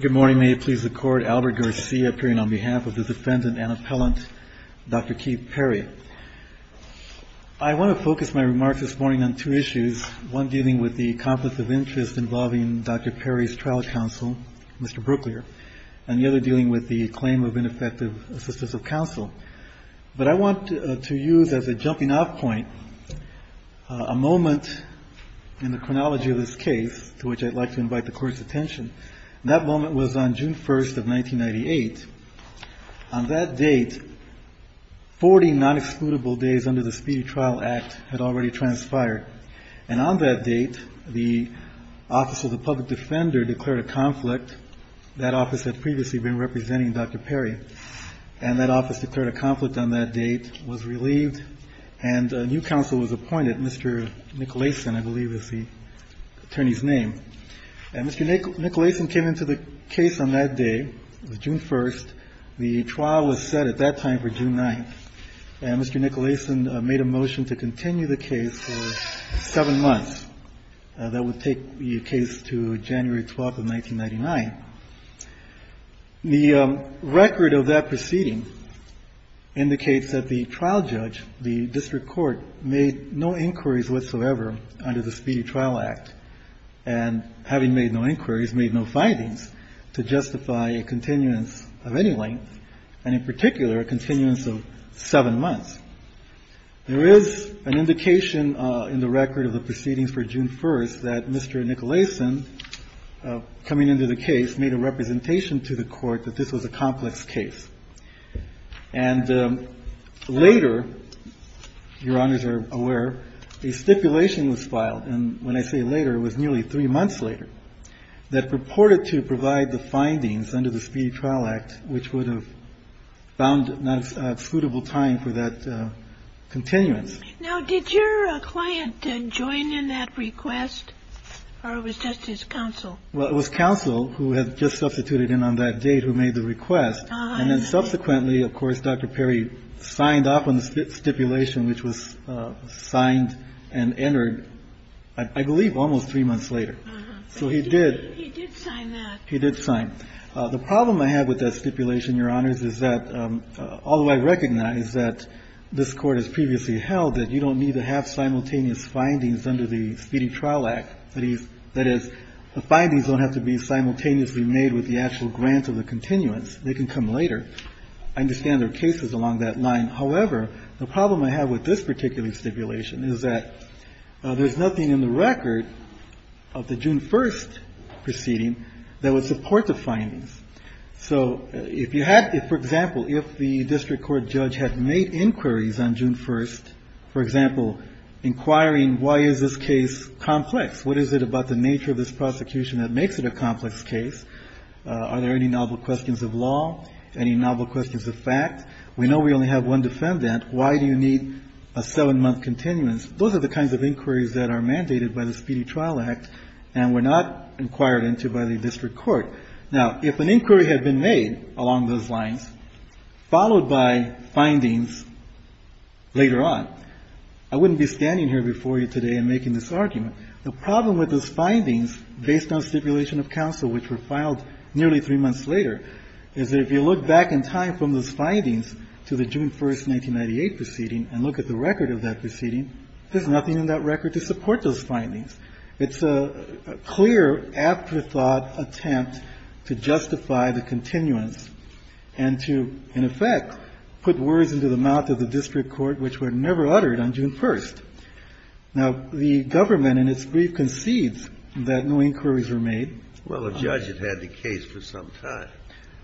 Good morning. May it please the Court, Albert Garcia appearing on behalf of the defendant and appellant, Dr. Keith Perry. I want to focus my remarks this morning on two issues, one dealing with the conflict of interest involving Dr. Perry's trial counsel, Mr. Brooklier, and the other dealing with the claim of ineffective assistance of counsel. But I want to use as a jumping off point a moment in the chronology of this case to which I'd like to invite the Court's attention. That moment was on June 1st of 1998. On that date, 40 non-excludable days under the Speedy Trial Act had already transpired. And on that date, the Office of the Public Defender declared a conflict. That office had previously been representing Dr. Perry. And that office declared a conflict on that date, was relieved, and a new counsel was appointed, Mr. Nicolason, I believe is the attorney's name. And Mr. Nicolason came into the case on that day. It was June 1st. The trial was set at that time for June 9th. And Mr. Nicolason made a motion to continue the case for seven months. That would take the case to January 12th of 1999. The record of that proceeding indicates that the trial judge, the district court, made no inquiries whatsoever under the Speedy Trial Act. And having made no inquiries, made no findings to justify a continuance of any length, and in particular, a continuance of seven months. There is an indication in the record of the proceedings for June 1st that Mr. Nicolason, coming into the case, made a representation to the court that this was a complex case. And later, Your Honors are aware, a stipulation was filed, and when I say later, it was nearly three months later, that purported to provide the findings under the Speedy Trial Act, which would have found a suitable time for that continuance. Now, did your client join in that request, or it was just his counsel? Well, it was counsel who had just substituted in on that date who made the request. And then subsequently, of course, Dr. Perry signed off on the stipulation, which was signed and entered, I believe, almost three months later. So he did. He did sign that. He did sign. The problem I have with that stipulation, Your Honors, is that although I recognize that this Court has previously held that you don't need to have simultaneous findings under the Speedy Trial Act, that is, the findings don't have to be simultaneously made with the actual grant of the continuance. They can come later. I understand there are cases along that line. However, the problem I have with this particular stipulation is that there's nothing in the record of the June 1st proceeding that would support the findings. So if you had, for example, if the district court judge had made inquiries on June 1st, for example, inquiring why is this case complex? What is it about the nature of this prosecution that makes it a complex case? Are there any novel questions of law? Any novel questions of fact? We know we only have one defendant. Why do you need a seven-month continuance? Those are the kinds of inquiries that are mandated by the Speedy Trial Act and were not inquired into by the district court. Now, if an inquiry had been made along those lines, followed by findings later on, I wouldn't be standing here before you today and making this argument. The problem with those findings based on stipulation of counsel which were filed nearly three months later is that if you look back in time from those findings to the June 1st, 1998 proceeding and look at the record of that proceeding, there's nothing in that record to support those findings. It's a clear afterthought attempt to justify the continuance and to, in effect, put words into the mouth of the district court which were never uttered on June 1st. Now, the government in its brief concedes that no inquiries were made. Well, the judge had had the case for some time.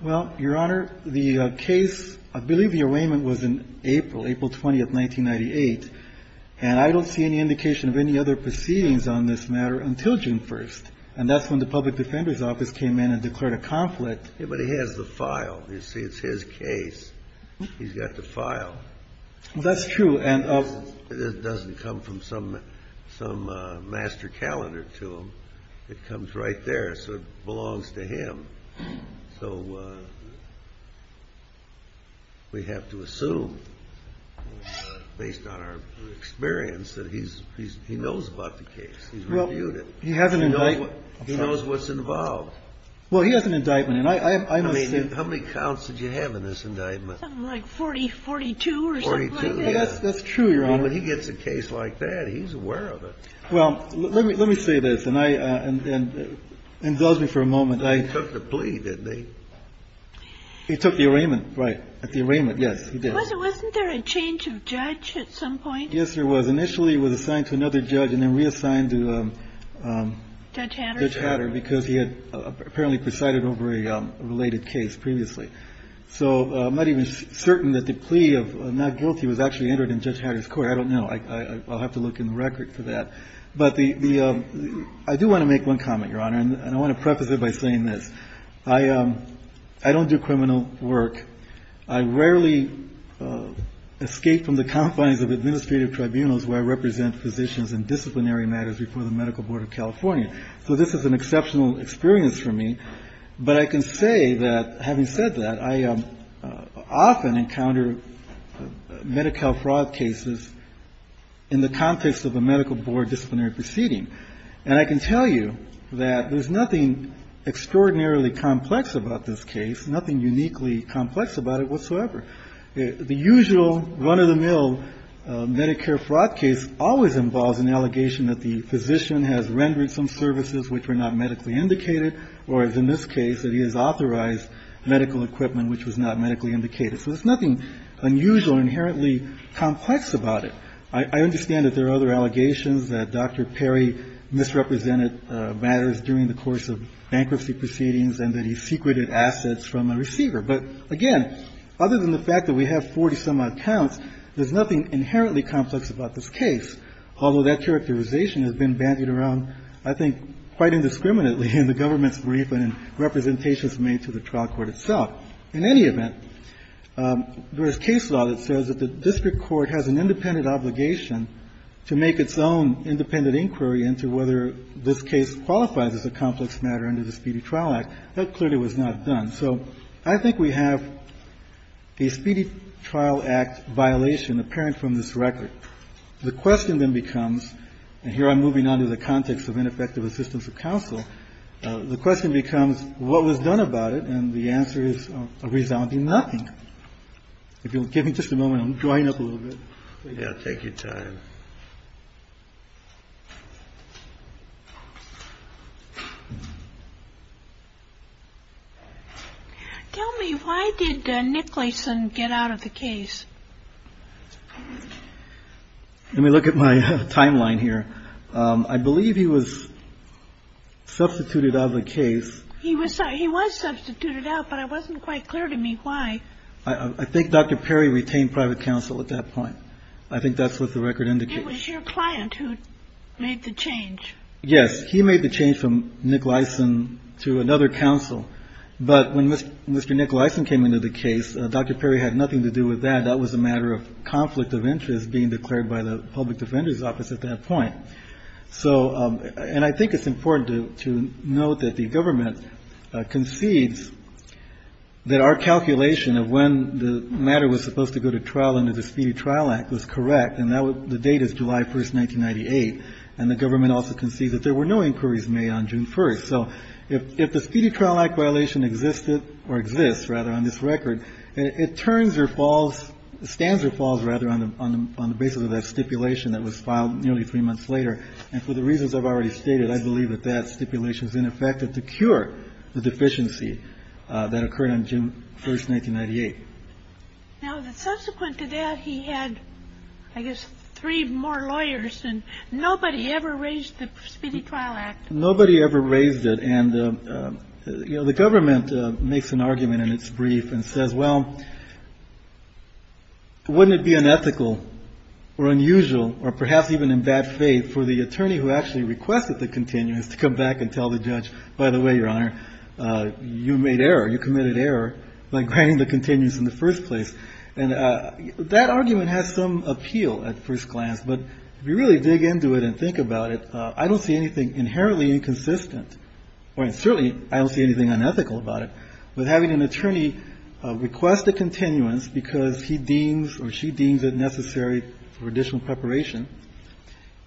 Well, Your Honor, the case, I believe the arraignment was in April, April 20th, 1998. And I don't see any indication of any other proceedings on this matter until June 1st. And that's when the public defender's office came in and declared a conflict. But he has the file. You see, it's his case. He's got the file. That's true. It doesn't come from some master calendar to him. It comes right there. So it belongs to him. So we have to assume, based on our experience, that he knows about the case. He's reviewed it. He has an indictment. He knows what's involved. Well, he has an indictment. How many counts did you have in this indictment? Something like 40, 42 or something like that. That's true, Your Honor. I mean, when he gets a case like that, he's aware of it. Well, let me say this. And I – and indulge me for a moment. He took the plea, didn't he? He took the arraignment, right, the arraignment. Yes, he did. Wasn't there a change of judge at some point? Yes, there was. Initially, he was assigned to another judge and then reassigned to Judge Hatter because he had apparently presided over a related case previously. So I'm not even certain that the plea of not guilty was actually entered in Judge Hatter's court. I don't know. I'll have to look in the record for that. But the – I do want to make one comment, Your Honor. And I want to preface it by saying this. I don't do criminal work. I rarely escape from the confines of administrative tribunals where I represent physicians in disciplinary matters before the Medical Board of California. So this is an exceptional experience for me. But I can say that, having said that, I often encounter Medi-Cal fraud cases in the context of a medical board disciplinary proceeding. And I can tell you that there's nothing extraordinarily complex about this case, nothing uniquely complex about it whatsoever. The usual run-of-the-mill Medicare fraud case always involves an allegation that the physician has rendered some services which were not medically indicated or, as in this case, that he has authorized medical equipment which was not medically indicated. So there's nothing unusual or inherently complex about it. I understand that there are other allegations that Dr. Perry misrepresented matters during the course of bankruptcy proceedings and that he secreted assets from a receiver. But, again, other than the fact that we have 40-some-odd counts, there's nothing inherently complex about this case, although that characterization has been bandied around, I think, quite indiscriminately in the government's brief and in representations made to the trial court itself. In any event, there is case law that says that the district court has an independent obligation to make its own independent inquiry into whether this case qualifies as a complex matter under the Speedy Trial Act. That clearly was not done. So I think we have a Speedy Trial Act violation apparent from this record. The question then becomes, and here I'm moving on to the context of ineffective assistance of counsel, the question becomes what was done about it? And the answer is a resounding nothing. If you'll give me just a moment, I'm drying up a little bit. We've got to take your time. Tell me, why did Nick Lason get out of the case? Let me look at my timeline here. I believe he was substituted out of the case. He was substituted out, but it wasn't quite clear to me why. I think Dr. Perry retained private counsel at that point. I think that's what the record indicates. It was your client who made the change. Yes, he made the change from Nick Lason to another counsel. But when Mr. Nick Lason came into the case, Dr. Perry had nothing to do with that. That was a matter of conflict of interest being declared by the public defender's office at that point. And I think it's important to note that the government concedes that our calculation of when the matter was supposed to go to trial under the Speedy Trial Act was correct, and the date is July 1st, 1998, and the government also concedes that there were no inquiries made on June 1st. So if the Speedy Trial Act violation existed or exists, rather, on this record, it turns or falls, stands or falls, rather, on the basis of that stipulation that was filed nearly three months later. And for the reasons I've already stated, I believe that that stipulation is ineffective to cure the deficiency that occurred on June 1st, 1998. Now, subsequent to that, he had, I guess, three more lawyers, and nobody ever raised the Speedy Trial Act. Nobody ever raised it. And, you know, the government makes an argument in its brief and says, well, wouldn't it be unethical or unusual, or perhaps even in bad faith for the attorney who actually requested the continuance to come back and tell the judge, by the way, Your Honor, you made error, you committed error by granting the continuance in the first place. And that argument has some appeal at first glance, but if you really dig into it and think about it, I don't see anything inherently inconsistent, or certainly I don't see anything unethical about it, with having an attorney request a continuance because he deems or she deems it necessary for additional preparation,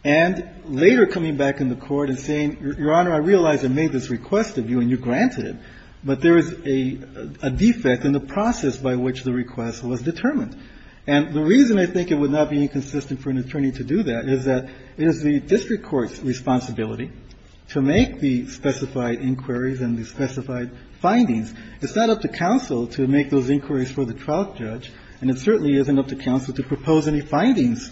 and later coming back in the court and saying, Your Honor, I realize I made this request of you and you granted it, but there is a defect in the process by which the request was determined. And the reason I think it would not be inconsistent for an attorney to do that is that it is the district court's responsibility to make the specified inquiries and the specified findings. It's not up to counsel to make those inquiries for the trial judge, and it certainly isn't up to counsel to propose any findings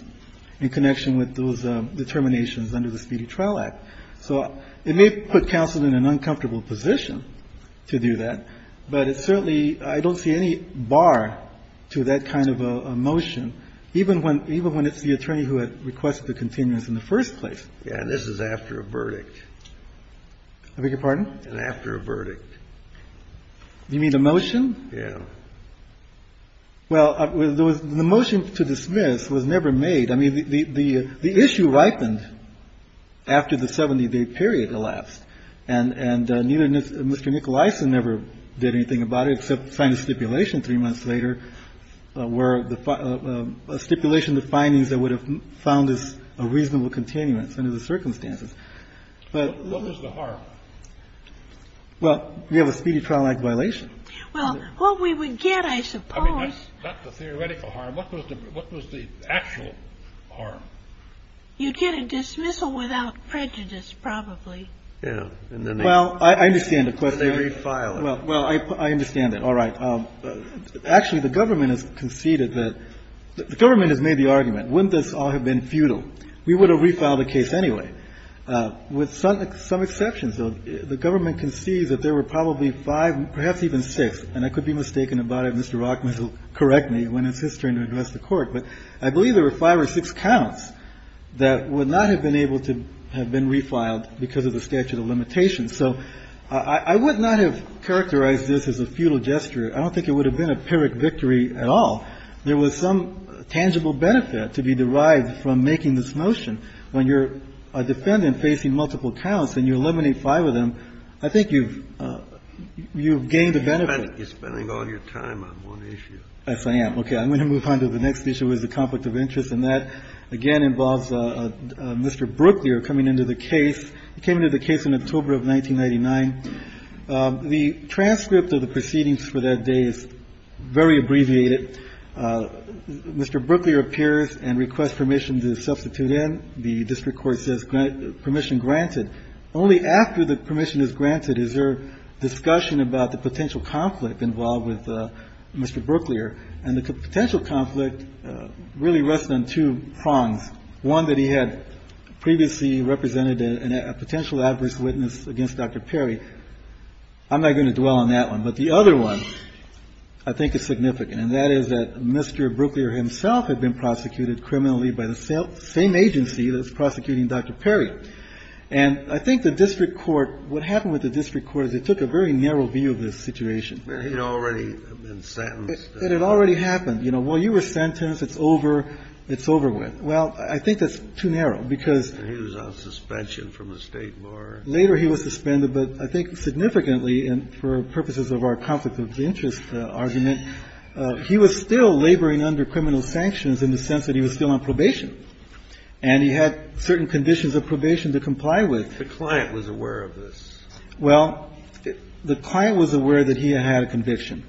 in connection with those determinations under the Speedy Trial Act. So it may put counsel in an uncomfortable position to do that, But it certainly, I don't see any bar to that kind of a motion, even when it's the attorney who had requested the continuance in the first place. Yeah, and this is after a verdict. I beg your pardon? After a verdict. You mean the motion? Yeah. Well, the motion to dismiss was never made. I mean, the issue ripened after the 70-day period elapsed. And Mr. Nicolaisen never did anything about it except sign a stipulation three months later where a stipulation, the findings that would have found this a reasonable continuance under the circumstances. What was the harm? Well, we have a Speedy Trial Act violation. Well, what we would get, I suppose. I mean, not the theoretical harm. What was the actual harm? You'd get a dismissal without prejudice, probably. Yeah. Well, I understand the question. Well, I understand that. All right. Actually, the government has conceded that the government has made the argument, wouldn't this all have been futile? We would have refiled the case anyway. With some exceptions, though, the government concedes that there were probably five, perhaps even six, and I could be mistaken about it. Mr. Rockman will correct me when it's his turn to address the Court. But I believe there were five or six counts that would not have been able to have been refiled because of the statute of limitations. So I would not have characterized this as a futile gesture. I don't think it would have been a pyrrhic victory at all. There was some tangible benefit to be derived from making this motion. When you're a defendant facing multiple counts and you eliminate five of them, I think you've gained a benefit. You're spending all your time on one issue. Yes, I am. Okay. I'm going to move on to the next issue, which is the conflict of interest. And that, again, involves Mr. Brooklier coming into the case. He came into the case in October of 1999. The transcript of the proceedings for that day is very abbreviated. Mr. Brooklier appears and requests permission to substitute in. The district court says permission granted. Only after the permission is granted is there discussion about the potential conflict involved with Mr. Brooklier. And the potential conflict really rests on two prongs, one that he had previously represented a potential adverse witness against Dr. Perry. I'm not going to dwell on that one. But the other one I think is significant, and that is that Mr. Brooklier himself had been prosecuted criminally by the same agency that was prosecuting Dr. Perry. And I think the district court, what happened with the district court is it took a very narrow view of the situation. And he had already been sentenced. It had already happened. You know, well, you were sentenced. It's over. It's over with. Well, I think that's too narrow, because he was on suspension from the State Bar. Later he was suspended, but I think significantly, and for purposes of our conflict of interest argument, he was still laboring under criminal sanctions in the sense that he was still on probation. And he had certain conditions of probation to comply with. The client was aware of this. Well, the client was aware that he had a conviction,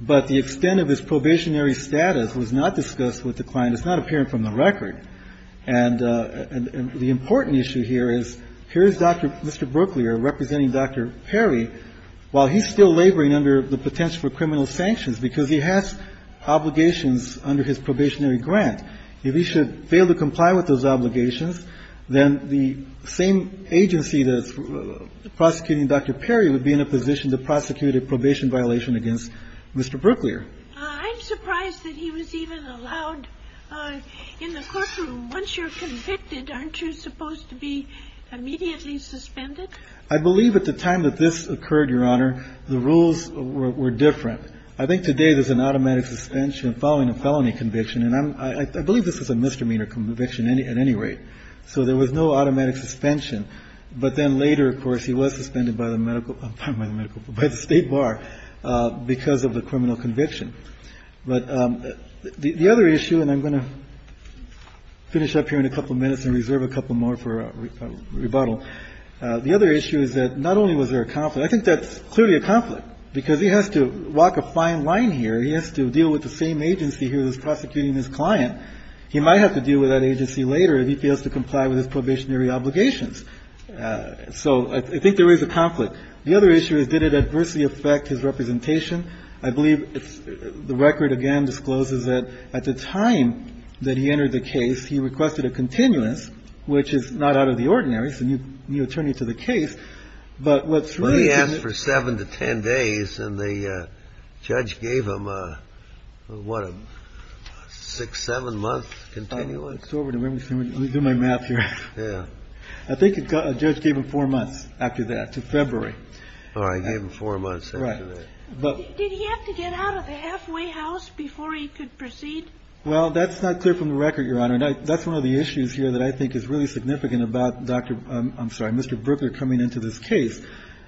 but the extent of his probationary status was not discussed with the client. It's not appearing from the record. And the important issue here is here's Dr. Mr. Brooklier representing Dr. Perry while he's still laboring under the potential for criminal sanctions, because he has obligations under his probationary grant. If he should fail to comply with those obligations, then the same agency that's prosecuting Dr. Perry would be in a position to prosecute a probation violation against Mr. Brooklier. I'm surprised that he was even allowed in the courtroom. Once you're convicted, aren't you supposed to be immediately suspended? I believe at the time that this occurred, Your Honor, the rules were different. I think today there's an automatic suspension following a felony conviction, and I believe this was a misdemeanor conviction at any rate. So there was no automatic suspension. But then later, of course, he was suspended by the state bar because of the criminal conviction. But the other issue, and I'm going to finish up here in a couple minutes and reserve a couple more for rebuttal. The other issue is that not only was there a conflict. I think that's clearly a conflict, because he has to walk a fine line here. He has to deal with the same agency who is prosecuting his client. He might have to deal with that agency later if he fails to comply with his probationary obligations. So I think there is a conflict. The other issue is, did it adversely affect his representation? I believe the record, again, discloses that at the time that he entered the case, he requested a continuance, which is not out of the ordinary. It's a new attorney to the case. But what's really to the case — Well, he asked for seven to ten days, and the judge gave him, what, a six, seven-month continuance? Let me do my math here. Yeah. I think the judge gave him four months after that, to February. Oh, he gave him four months after that. Right. Did he have to get out of the halfway house before he could proceed? Well, that's not clear from the record, Your Honor. That's one of the issues here that I think is really significant about Dr. — I'm sorry, Mr. Brooker coming into this case.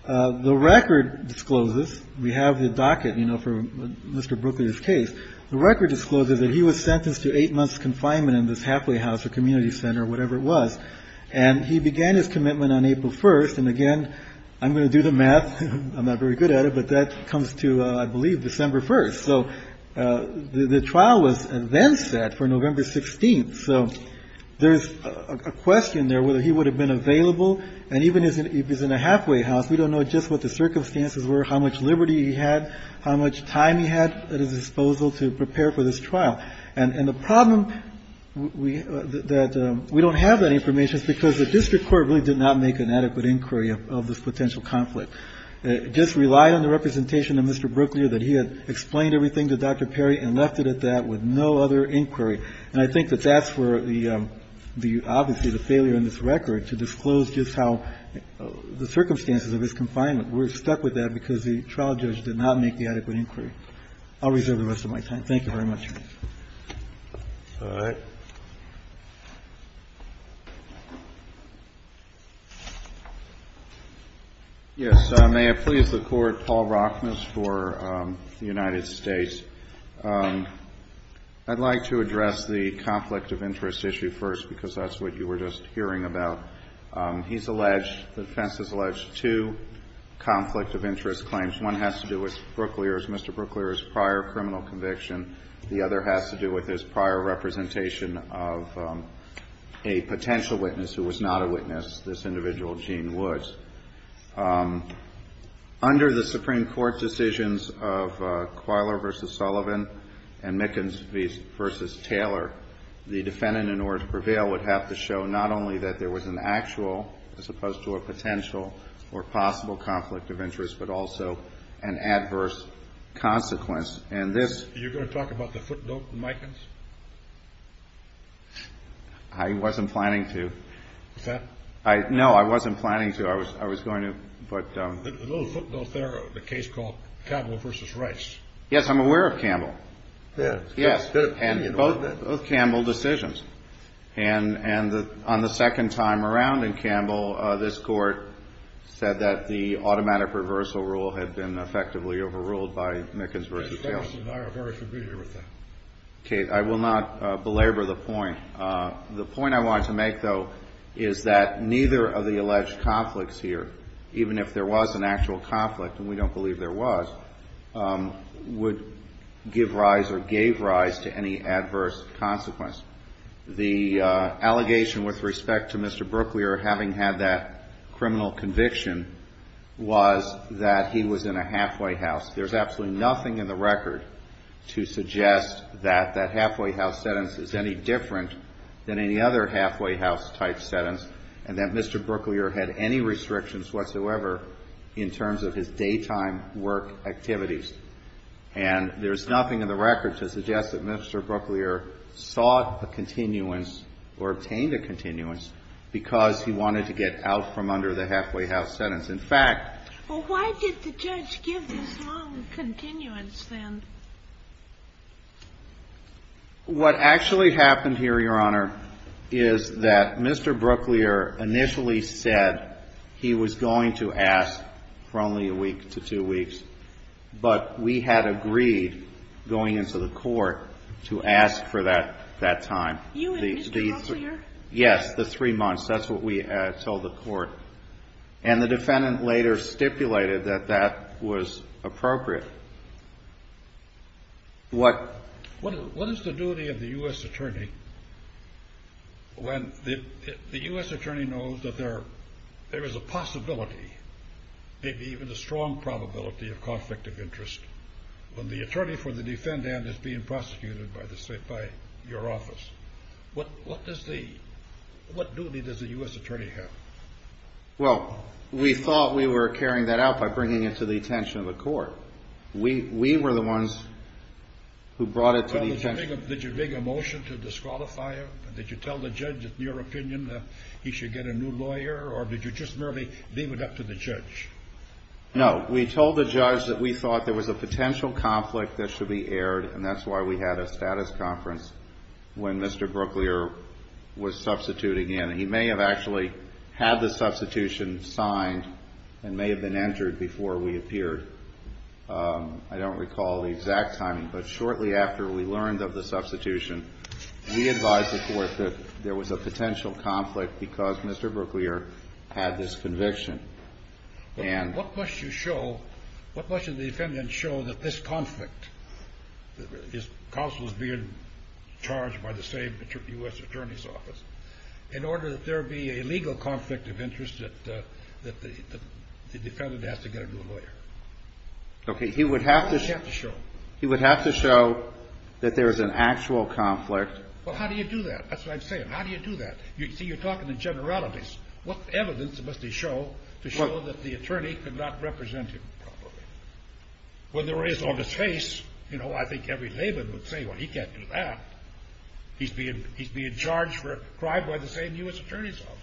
The record discloses — we have the docket, you know, for Mr. Brooker's case. The record discloses that he was sentenced to eight months' confinement in this halfway And he began his commitment on April 1st. And again, I'm going to do the math. I'm not very good at it. But that comes to, I believe, December 1st. So the trial was then set for November 16th. So there's a question there whether he would have been available. And even if he's in a halfway house, we don't know just what the circumstances were, how much liberty he had, how much time he had at his disposal to prepare for this trial. And the problem that we don't have that information is because the district court really did not make an adequate inquiry of this potential conflict. It just relied on the representation of Mr. Brooklier that he had explained everything to Dr. Perry and left it at that with no other inquiry. And I think that that's where the — obviously, the failure in this record to disclose just how — the circumstances of his confinement. We're stuck with that because the trial judge did not make the adequate inquiry. I'll reserve the rest of my time. Thank you very much, Your Honor. All right. Yes. May it please the Court. Paul Rockness for the United States. I'd like to address the conflict of interest issue first because that's what you were just hearing about. He's alleged — the defense has alleged two conflict of interest claims. One has to do with Brooklier's — Mr. Brooklier's prior criminal conviction. The other has to do with his prior representation of a potential witness who was not a witness, this individual, Gene Woods. Under the Supreme Court decisions of Qualer v. Sullivan and Mickens v. Taylor, the defendant, in order to prevail, would have to show not only that there was an actual as opposed to a potential or possible conflict of interest, but also an adverse consequence. And this — You're going to talk about the footnote from Mickens? I wasn't planning to. Is that — No, I wasn't planning to. I was going to, but — The little footnote there, the case called Campbell v. Rice. Yes, I'm aware of Campbell. Yes. And both Campbell decisions. And on the second time around in Campbell, this Court said that the automatic reversal rule had been effectively overruled by Mickens v. Taylor. Mr. Ferguson and I are very familiar with that. Okay. I will not belabor the point. The point I wanted to make, though, is that neither of the alleged conflicts here, even if there was an actual conflict, and we don't believe there was, would give rise or gave rise to any adverse consequence. The allegation with respect to Mr. Brooklier having had that criminal conviction was that he was in a halfway house. There's absolutely nothing in the record to suggest that that halfway house sentence is any different than any other halfway house-type sentence, and that Mr. Brooklier had any restrictions whatsoever in terms of his daytime work activities. And there's nothing in the record to suggest that Mr. Brooklier sought a continuance or obtained a continuance because he wanted to get out from under the halfway house sentence. In fact… Well, why did the judge give this long continuance then? What actually happened here, Your Honor, is that Mr. Brooklier initially said that he was going to ask for only a week to two weeks, but we had agreed going into the court to ask for that time. You and Mr. Brooklier? Yes, the three months. That's what we told the court. And the defendant later stipulated that that was appropriate. What is the duty of the U.S. attorney when the U.S. attorney knows that there is a possibility, maybe even a strong probability of conflict of interest, when the attorney for the defendant is being prosecuted by your office? What duty does the U.S. attorney have? Well, we thought we were carrying that out by bringing it to the attention of the court. We were the ones who brought it to the attention. Did you make a motion to disqualify him? Did you tell the judge, in your opinion, that he should get a new lawyer, or did you just merely leave it up to the judge? No. We told the judge that we thought there was a potential conflict that should be aired, and that's why we had a status conference when Mr. Brooklier was substituting in. He may have actually had the substitution signed and may have been entered before we appeared. I don't recall the exact timing, but shortly after we learned of the substitution, we were told that there was a potential conflict because Mr. Brooklier had this conviction. What must you show, what must the defendant show that this conflict, his counsel is being charged by the same U.S. attorney's office, in order that there be a legal conflict of interest that the defendant has to get a new lawyer? Okay. He would have to show that there is an actual conflict. Well, how do you do that? That's what I'm saying. How do you do that? You see, you're talking in generalities. What evidence must he show to show that the attorney could not represent him properly? When there is on his face, you know, I think every layman would say, well, he can't do that. He's being charged for a crime by the same U.S. attorney's office.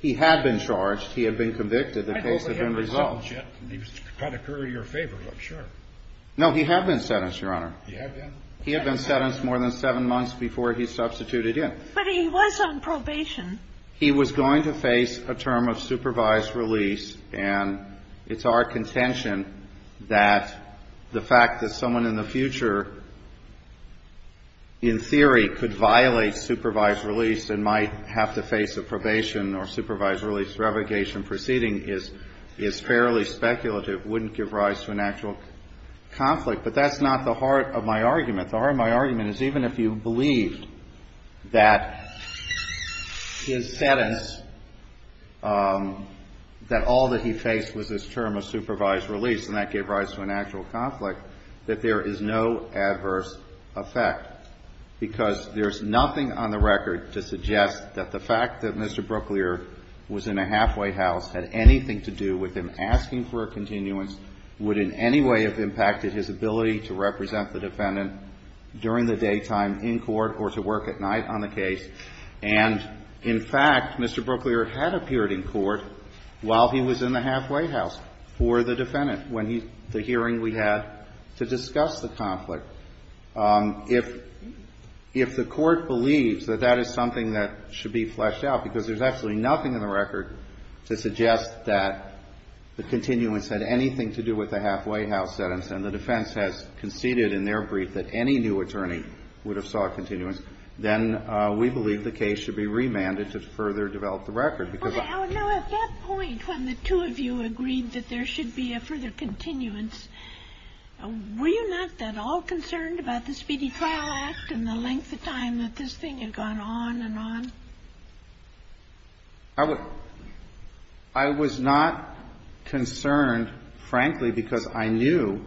He had been convicted. The case had been resolved. I don't think he was sentenced yet. He was trying to curry your favor, I'm sure. No, he had been sentenced, Your Honor. He had been? He had been sentenced more than seven months before he substituted in. But he was on probation. He was going to face a term of supervised release, and it's our contention that the fact that someone in the future, in theory, could violate supervised release and might have to face a probation or supervised release revocation proceeding is fairly speculative, wouldn't give rise to an actual conflict. But that's not the heart of my argument. The heart of my argument is even if you believed that his sentence, that all that he faced was his term of supervised release, and that gave rise to an actual conflict, that there is no adverse effect because there's nothing on the record to suggest that the fact that Mr. Brooklier was in a halfway house had anything to do with him the defendant during the daytime in court or to work at night on the case. And, in fact, Mr. Brooklier had appeared in court while he was in the halfway house for the defendant when he the hearing we had to discuss the conflict. If the court believes that that is something that should be fleshed out because there's absolutely nothing in the record to suggest that the continuance had anything to do with the halfway house sentence and the defense has conceded in their brief that any new attorney would have sought continuance, then we believe the case should be remanded to further develop the record. Now, at that point when the two of you agreed that there should be a further continuance, were you not at all concerned about the Speedy Trial Act and the length of time that this thing had gone on and on? I was not concerned, frankly, because I knew,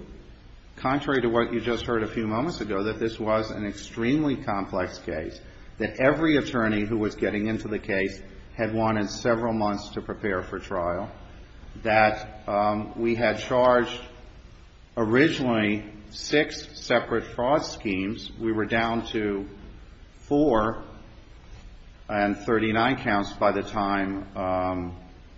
contrary to what you just heard a few moments ago, that this was an extremely complex case, that every attorney who was getting into the case had wanted several months to prepare for trial, that we had charged originally six separate fraud schemes. We were down to four and 39 counts by the time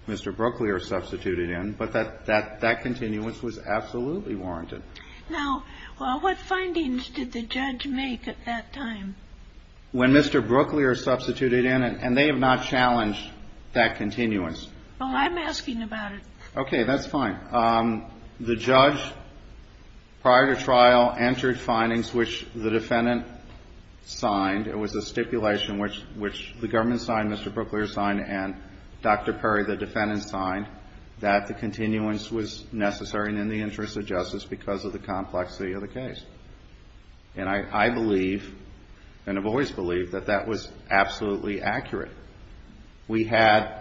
Mr. Brooklier substituted in, but that continuance was absolutely warranted. Now, what findings did the judge make at that time? When Mr. Brooklier substituted in, and they have not challenged that continuance. Well, I'm asking about it. Okay, that's fine. The judge, prior to trial, entered findings which the defendant signed. It was a stipulation which the government signed, Mr. Brooklier signed, and Dr. Perry, the defendant, signed, that the continuance was necessary and in the interest of justice because of the complexity of the case. And I believe, and have always believed, that that was absolutely accurate. We had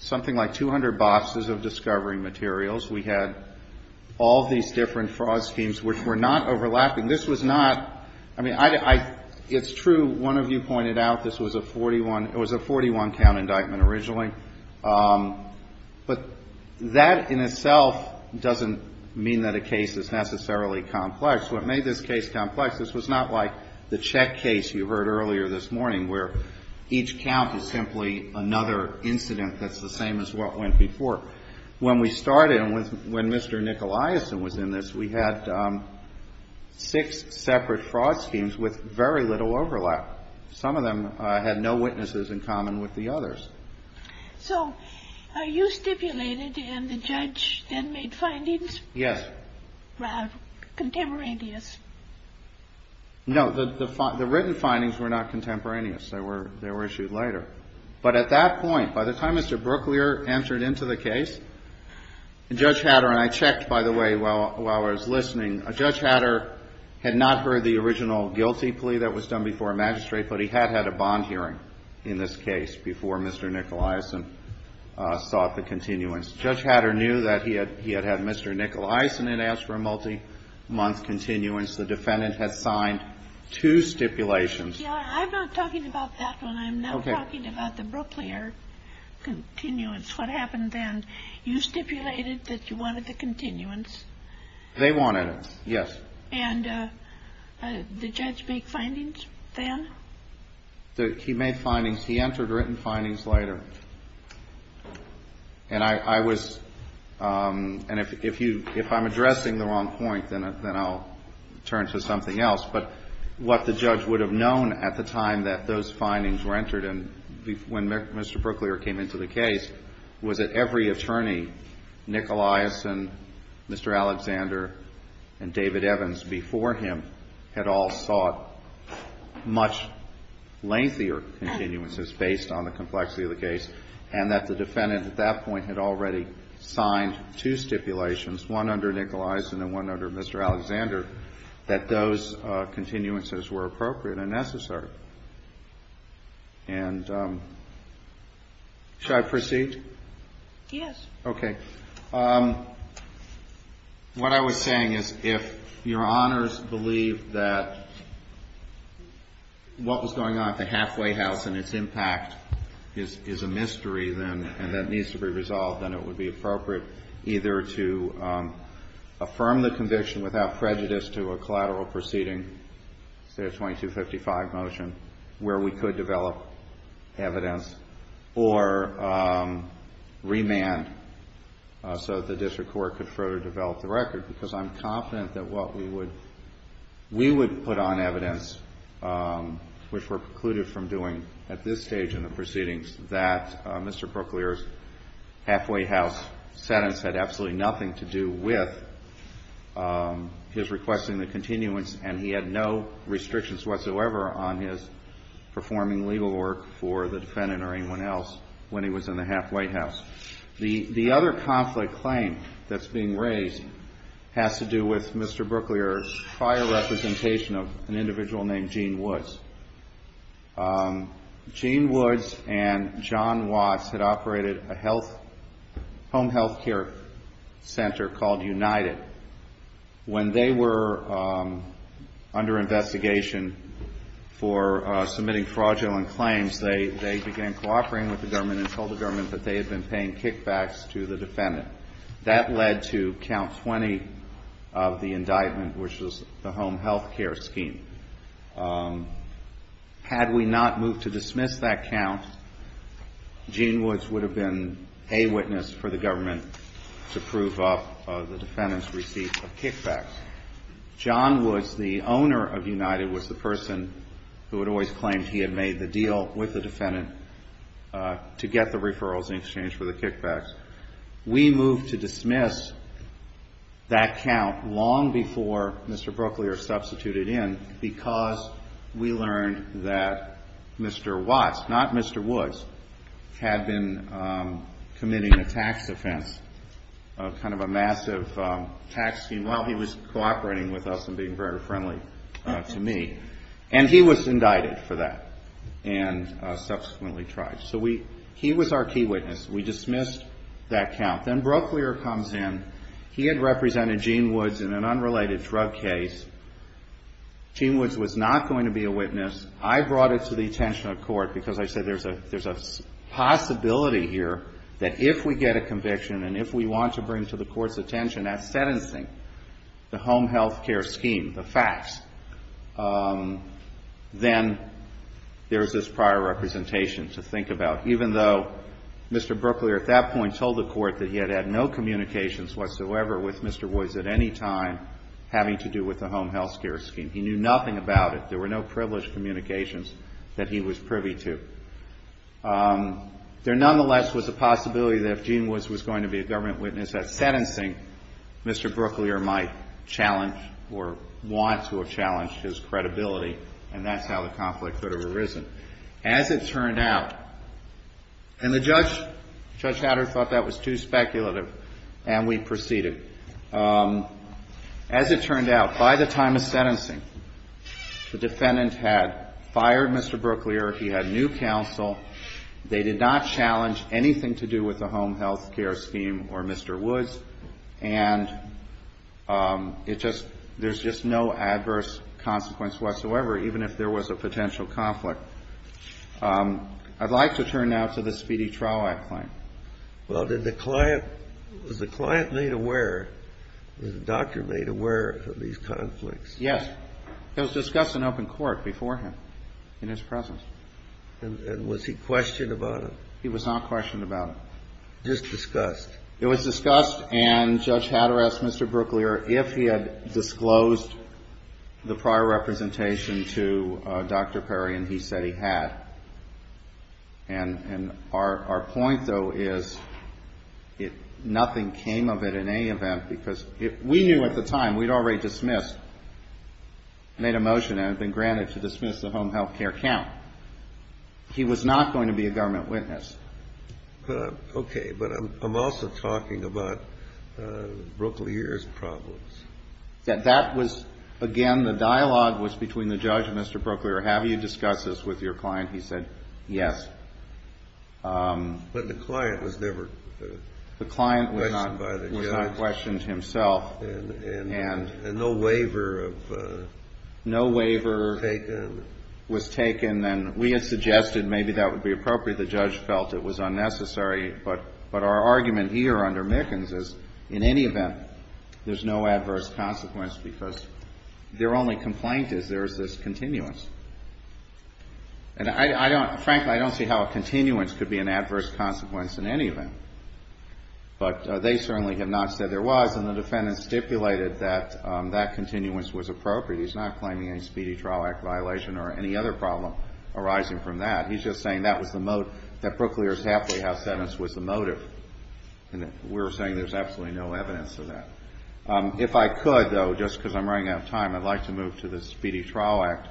something like 200 boxes of discovery materials. We had all these different fraud schemes which were not overlapping. This was not, I mean, I, it's true, one of you pointed out this was a 41, it was a 41-count indictment originally, but that in itself doesn't make any sense. It doesn't mean that a case is necessarily complex. What made this case complex, this was not like the check case you heard earlier this morning where each count is simply another incident that's the same as what went before. When we started and when Mr. Nicolaisen was in this, we had six separate fraud schemes with very little overlap. Some of them had no witnesses in common with the others. So you stipulated and the judge then made findings? Yes. Contemporaneous. No, the written findings were not contemporaneous. They were issued later. But at that point, by the time Mr. Brooklier entered into the case, Judge Hatter, and I checked, by the way, while I was listening, Judge Hatter had not heard the original guilty plea that was done before a magistrate, but he had had a bond hearing in this case, and he had not heard the original guilty plea that was done before a magistrate. And then the defendant, in addition to the continuance, the defendant had signed two stipulations. I'm not talking about that one. I'm not talking about the Brooklier continuance. What happened then? You stipulated that you wanted the continuance. They wanted it, yes. And the judge made findings then? He made findings. He entered written findings later. And I was, and if you, if I'm addressing the wrong point, then I'll turn to something else, but what the judge would have known at the time that those findings were entered and when Mr. Brooklier came into the case was that every attorney, Nick Eliason, Mr. Alexander, and David Evans before him, had all sought much lengthier continuances based on the complexity of the case, and that the defendant at that point had already signed two stipulations, one under Nick Eliason and one under Mr. Alexander, that those continuances were appropriate and necessary. And should I proceed? Yes. Okay. What I was saying is if Your Honors believe that what was going on at the halfway house and its impact is a mystery and that needs to be resolved, then it would be appropriate either to affirm the conviction without prejudice to a collateral proceeding, say a 2255 motion, where we could develop evidence, or remand so that the district court could further develop the record, because I'm confident that what we would, we would put on evidence, which we're precluded from doing at this stage in the proceedings, that Mr. Brooklier's halfway house sentence had absolutely nothing to do with his requesting the continuance, and he had no restrictions whatsoever on his or anyone else when he was in the halfway house. The other conflict claim that's being raised has to do with Mr. Brooklier's prior representation of an individual named Gene Woods. Gene Woods and John Watts had operated a health, home health care center called United. When they were under operating with the government and told the government that they had been paying kickbacks to the defendant, that led to count 20 of the indictment, which was the home health care scheme. Had we not moved to dismiss that count, Gene Woods would have been a witness for the government to prove up the defendant's receipt of kickbacks. John Woods, the owner of United, was the person who had always claimed he had made the deal with the defendant to get the referrals in exchange for the kickbacks. We moved to dismiss that count long before Mr. Brooklier substituted in because we learned that Mr. Watts, not Mr. Woods, had been committing a tax offense, kind of a massive tax scheme while he was cooperating with us and being very friendly to me. And he was indicted for that and subsequently tried. So he was our key witness. We dismissed that count. Then Brooklier comes in. He had represented Gene Woods in an unrelated drug case. Gene Woods was not going to be a witness. I brought it to the attention of court because I said there's a possibility here that if we get a conviction and if we want to bring to the court's attention that sentencing, the home health care scheme, the facts, then there's this prior representation to think about, even though Mr. Brooklier at that point told the court that he had had no communications whatsoever with Mr. Woods at any time having to do with the home health care scheme. He knew nothing about it. There were no less was a possibility that if Gene Woods was going to be a government witness at sentencing, Mr. Brooklier might challenge or want to have challenged his credibility. And that's how the conflict could have arisen. As it turned out, and the judge thought that was too speculative, and we proceeded. As it turned out, by the time of sentencing, the defendant had fired Mr. Brooklier. He had new counsel. They did not challenge anything to do with the home health care scheme or Mr. Woods. And it just, there's just no adverse consequence whatsoever, even if there was a potential conflict. I'd like to turn now to the Speedy Trial Act claim. Well, did the client, was the client made aware, was the doctor made aware of these conflicts? Yes. It was discussed in open court beforehand, in his presence. And was he questioned about it? He was not questioned about it. Just discussed? It was discussed, and Judge Hatter asked Mr. Brooklier if he had disclosed the prior representation to Dr. Perry, and he said he had. And our point, though, is nothing came of it in any event, because we knew at the time we'd already dismissed, made a motion and had been granted to dismiss the home health care count. He was not going to be a government witness. Okay, but I'm also talking about Brooklier's problems. That was, again, the dialogue was between the judge and Mr. Brooklier. Have you discussed this with your client? He said yes. But the client was never questioned by the judge. The client was not questioned himself. And no waiver was taken. No waiver was taken, and we had suggested maybe that would be appropriate. The judge felt it was unnecessary. But our argument here under Mickens is, in any event, there's no adverse consequence because their only complaint is there's this continuance. And frankly, I don't see how a continuance could be an adverse consequence in any event. But they certainly have not said there was, and the defendant stipulated that that continuance was appropriate. He's not claiming any Speedy Trial Act violation or any other problem arising from that. He's just saying that Brooklier's halfway house sentence was the motive. And we're saying there's absolutely no evidence of that. If I could, though, just because I'm running out of time, I'd like to move to the Speedy Trial Act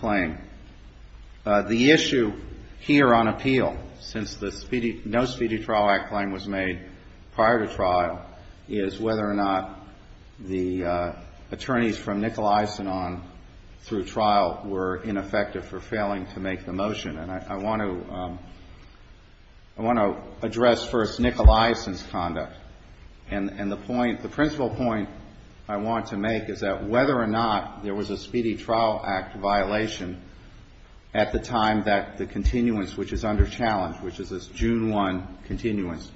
claim. The issue here on appeal, since the no Speedy Trial Act claim was made prior to trial, is whether or not the attorneys from Nicolaison on through trial were ineffective for failing to make the motion. And I want to address first Nicolaison's conduct. And the point, the principal point I want to make is that whether or not there was a Speedy Trial Act violation at the time that the continuance, which is under challenge, which is this June 1 continuance,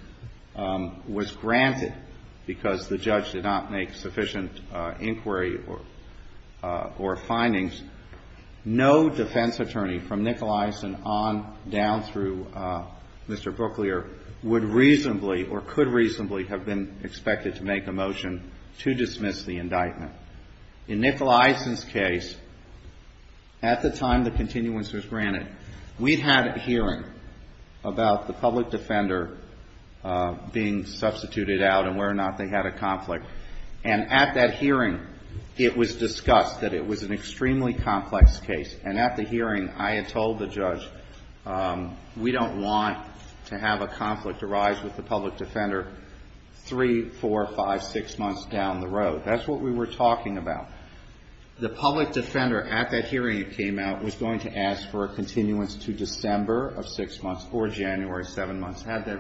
was granted because the judge did not make sufficient inquiry or findings, no defense attorney from Nicolaison on down through Mr. Brooklier would reasonably or could reasonably have been expected to make a motion to dismiss the indictment. In Nicolaison's case, at the time the continuance was granted, we'd had a hearing about the public defender being dismissed. It was discussed that it was an extremely complex case. And at the hearing, I had told the judge, we don't want to have a conflict arise with the public defender three, four, five, six months down the road. That's what we were talking about. The public defender, at that hearing it came out, was going to ask for a continuance to December of six months or January, seven months, had that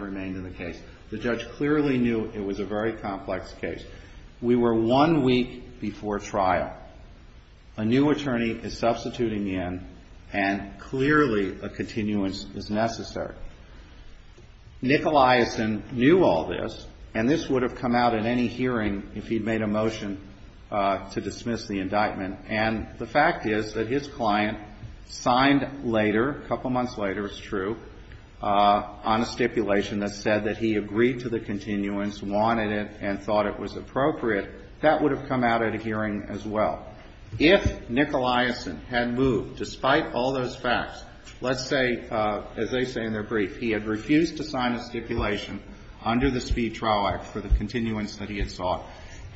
trial. A new attorney is substituting in and clearly a continuance is necessary. Nicolaison knew all this, and this would have come out in any hearing if he'd made a motion to dismiss the indictment. And the fact is that his client signed later, a couple months later, it's true, on a stipulation that said that he agreed to the hearing as well. If Nicolaison had moved, despite all those facts, let's say, as they say in their brief, he had refused to sign a stipulation under the speed trial act for the continuance that he had sought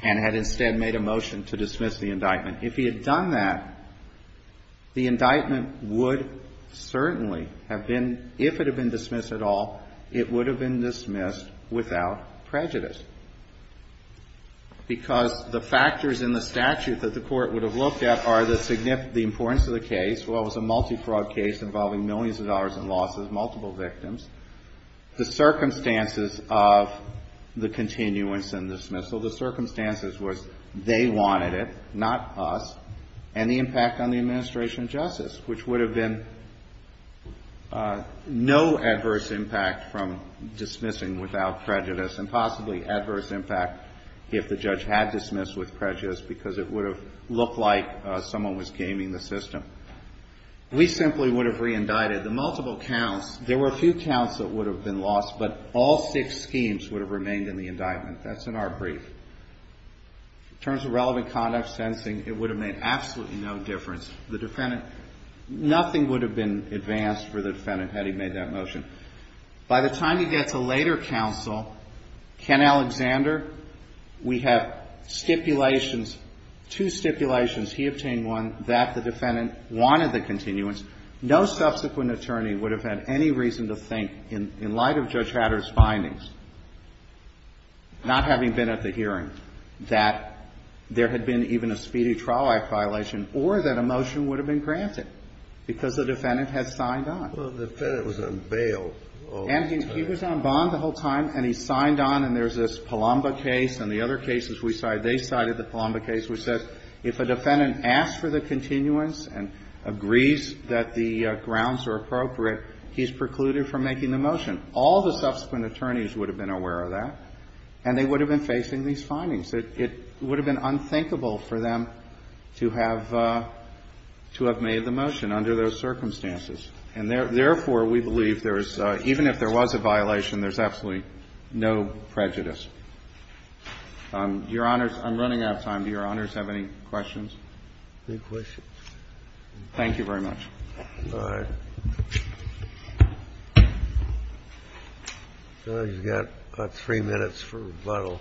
and had instead made a motion to dismiss the indictment. If he had done that, the indictment would certainly have been, if it had been dismissed at all, it would have been dismissed without prejudice, because the factors in the statute that the Court would have looked at are the importance of the case, well, it was a multi-fraud case involving millions of dollars in losses, multiple victims. The circumstances of the continuance and dismissal, the circumstances was they wanted it, not us, and the impact on the administration of justice, which would have been no adverse impact from dismissing without prejudice, and possibly adverse impact if the judge had dismissed with prejudice, because it would have looked like someone was gaming the system. We simply would have re-indicted the multiple counts. There were a few counts that would have been lost, but all six schemes would have remained in the indictment. That's in our brief. In terms of relevant conduct, sentencing, it would have made no difference. Now, if you look at the case of Ken Alexander, we have two stipulations. He obtained one that the defendant wanted the continuance. No subsequent attorney would have had any reason to think, in light of Judge Hatter's findings, not having been at the hearing, that there had been even a speedy trial-like violation, or that a motion would have been granted because the defendant had signed on. Well, the defendant was on bail. And he was on bond the whole time, and he signed on, and there's this Palomba case, and the other cases we cited, they cited the Palomba case, which says if a defendant asks for the continuance and agrees that the grounds are appropriate, he's precluded from making the motion. All the subsequent attorneys would have been aware of that, and they would have been facing these findings. It would have been unthinkable for them to have made the motion under those circumstances. And therefore, we believe there is, even if there was a violation, there's absolutely no prejudice. Your Honors, I'm running out of time. Do your Honors have any questions? No questions. Thank you very much. All right. You've got about three minutes for rebuttal.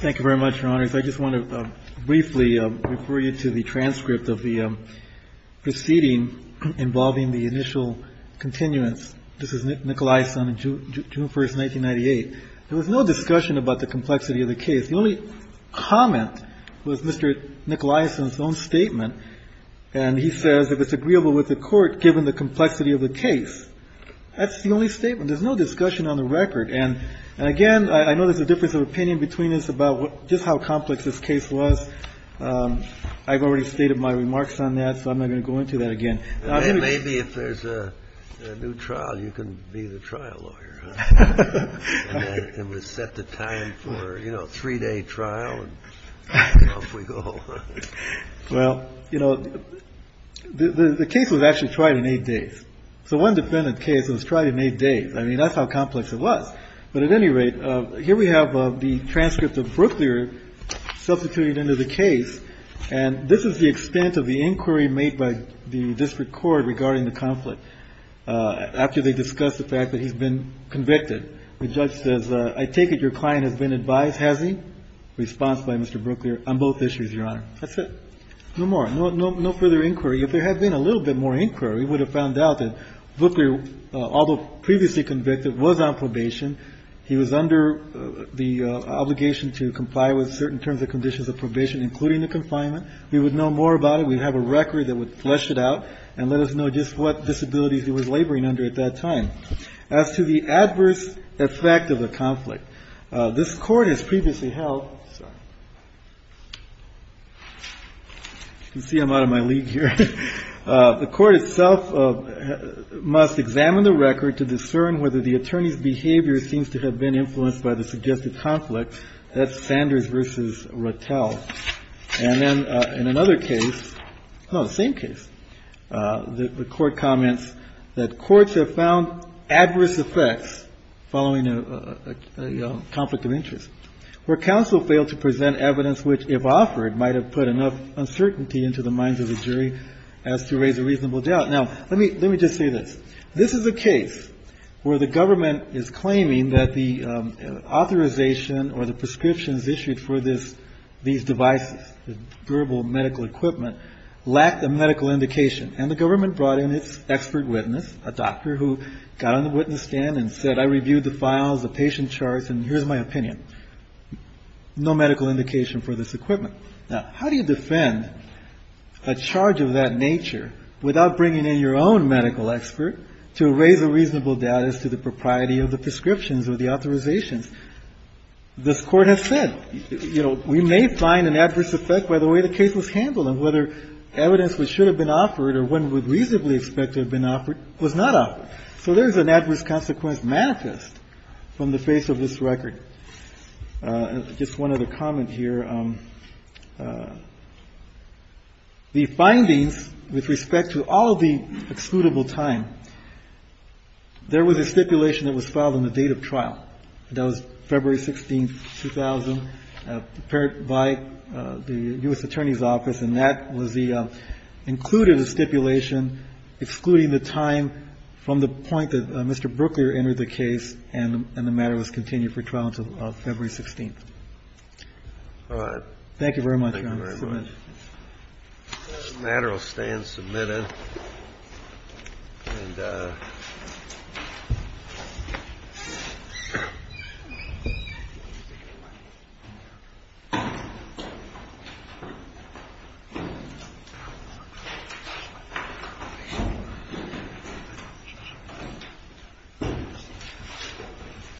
Thank you very much, Your Honors. I just want to briefly refer you to the transcript of the proceeding involving the initial continuance. This is Nicolaison, June 1, 1998. There was no discussion about the complexity of the case. The only comment was Mr. Nicolaison's own statement, and he says if it's agreeable with the Court given the complexity of the case. That's the only statement. There's no discussion on the record. And again, I know there's a difference of opinion between us about just how complex this case was. I've already stated my remarks on that, so I'm not going to go into that again. Maybe if there's a new trial, you can be the trial lawyer. And we set the time for, you know, a three-day trial, and off we go. Well, you know, the case was actually tried in eight days. So one defendant's case was tried in eight days. I mean, that's how complex it was. But at any rate, here we have the transcript of Brooklier substituted into the case, and this is the extent of the inquiry made by the district court regarding the conflict. After they discussed the fact that he's been convicted, the judge says, I take it your client has been advised. Has he? Response by Mr. Brooklier, on both issues, Your Honor. That's it. No more. No further inquiry. If there had been a little bit more inquiry, we would have found out that Brooklier, although previously convicted, was on probation. He was under the obligation to comply with certain terms and conditions of probation, including the confinement. We would know more about it. We'd have a record that would flesh it out and let us know just what disabilities he was laboring under at that time. As to the adverse effect of the conflict, this court has previously held. You can see I'm out of my league here. The court itself must examine the record to discern whether the attorney's behavior seems to have been influenced by the suggested conflict. That's Sanders versus Rotel. And then in another case, the same case, the court comments that courts have found adverse effects following a conflict of interest. Where counsel failed to present evidence which, if offered, might have put enough uncertainty into the minds of the jury as to raise a reasonable doubt. Now, let me just say this. This is a case where the government is claiming that the authorization or the prescriptions issued for these devices, durable medical equipment, lacked a medical indication. And the government brought in its expert witness, a doctor who got on the witness stand and said, I reviewed the files, the patient charts, and here's my opinion. No medical indication for this equipment. Now, how do you defend a charge of that nature without bringing in your own medical expert to raise a reasonable doubt as to the propriety of the prescriptions or the authorizations? This court has said, you know, we may find an adverse effect by the way the case was handled and whether evidence which should have been offered or one would reasonably expect to have been offered was not offered. So there's an adverse consequence manifest from the face of this record. Just one other comment here. The findings with respect to all the excludable time, there was a stipulation that was filed on the date of trial. That was February 16, 2000, prepared by the U.S. Attorney's Office. And that was the included stipulation excluding the time from the point that Mr. Brooklier entered the case and the matter was continued for trial until February 16th. Thank you very much, Your Honor. This matter will stay in submittal.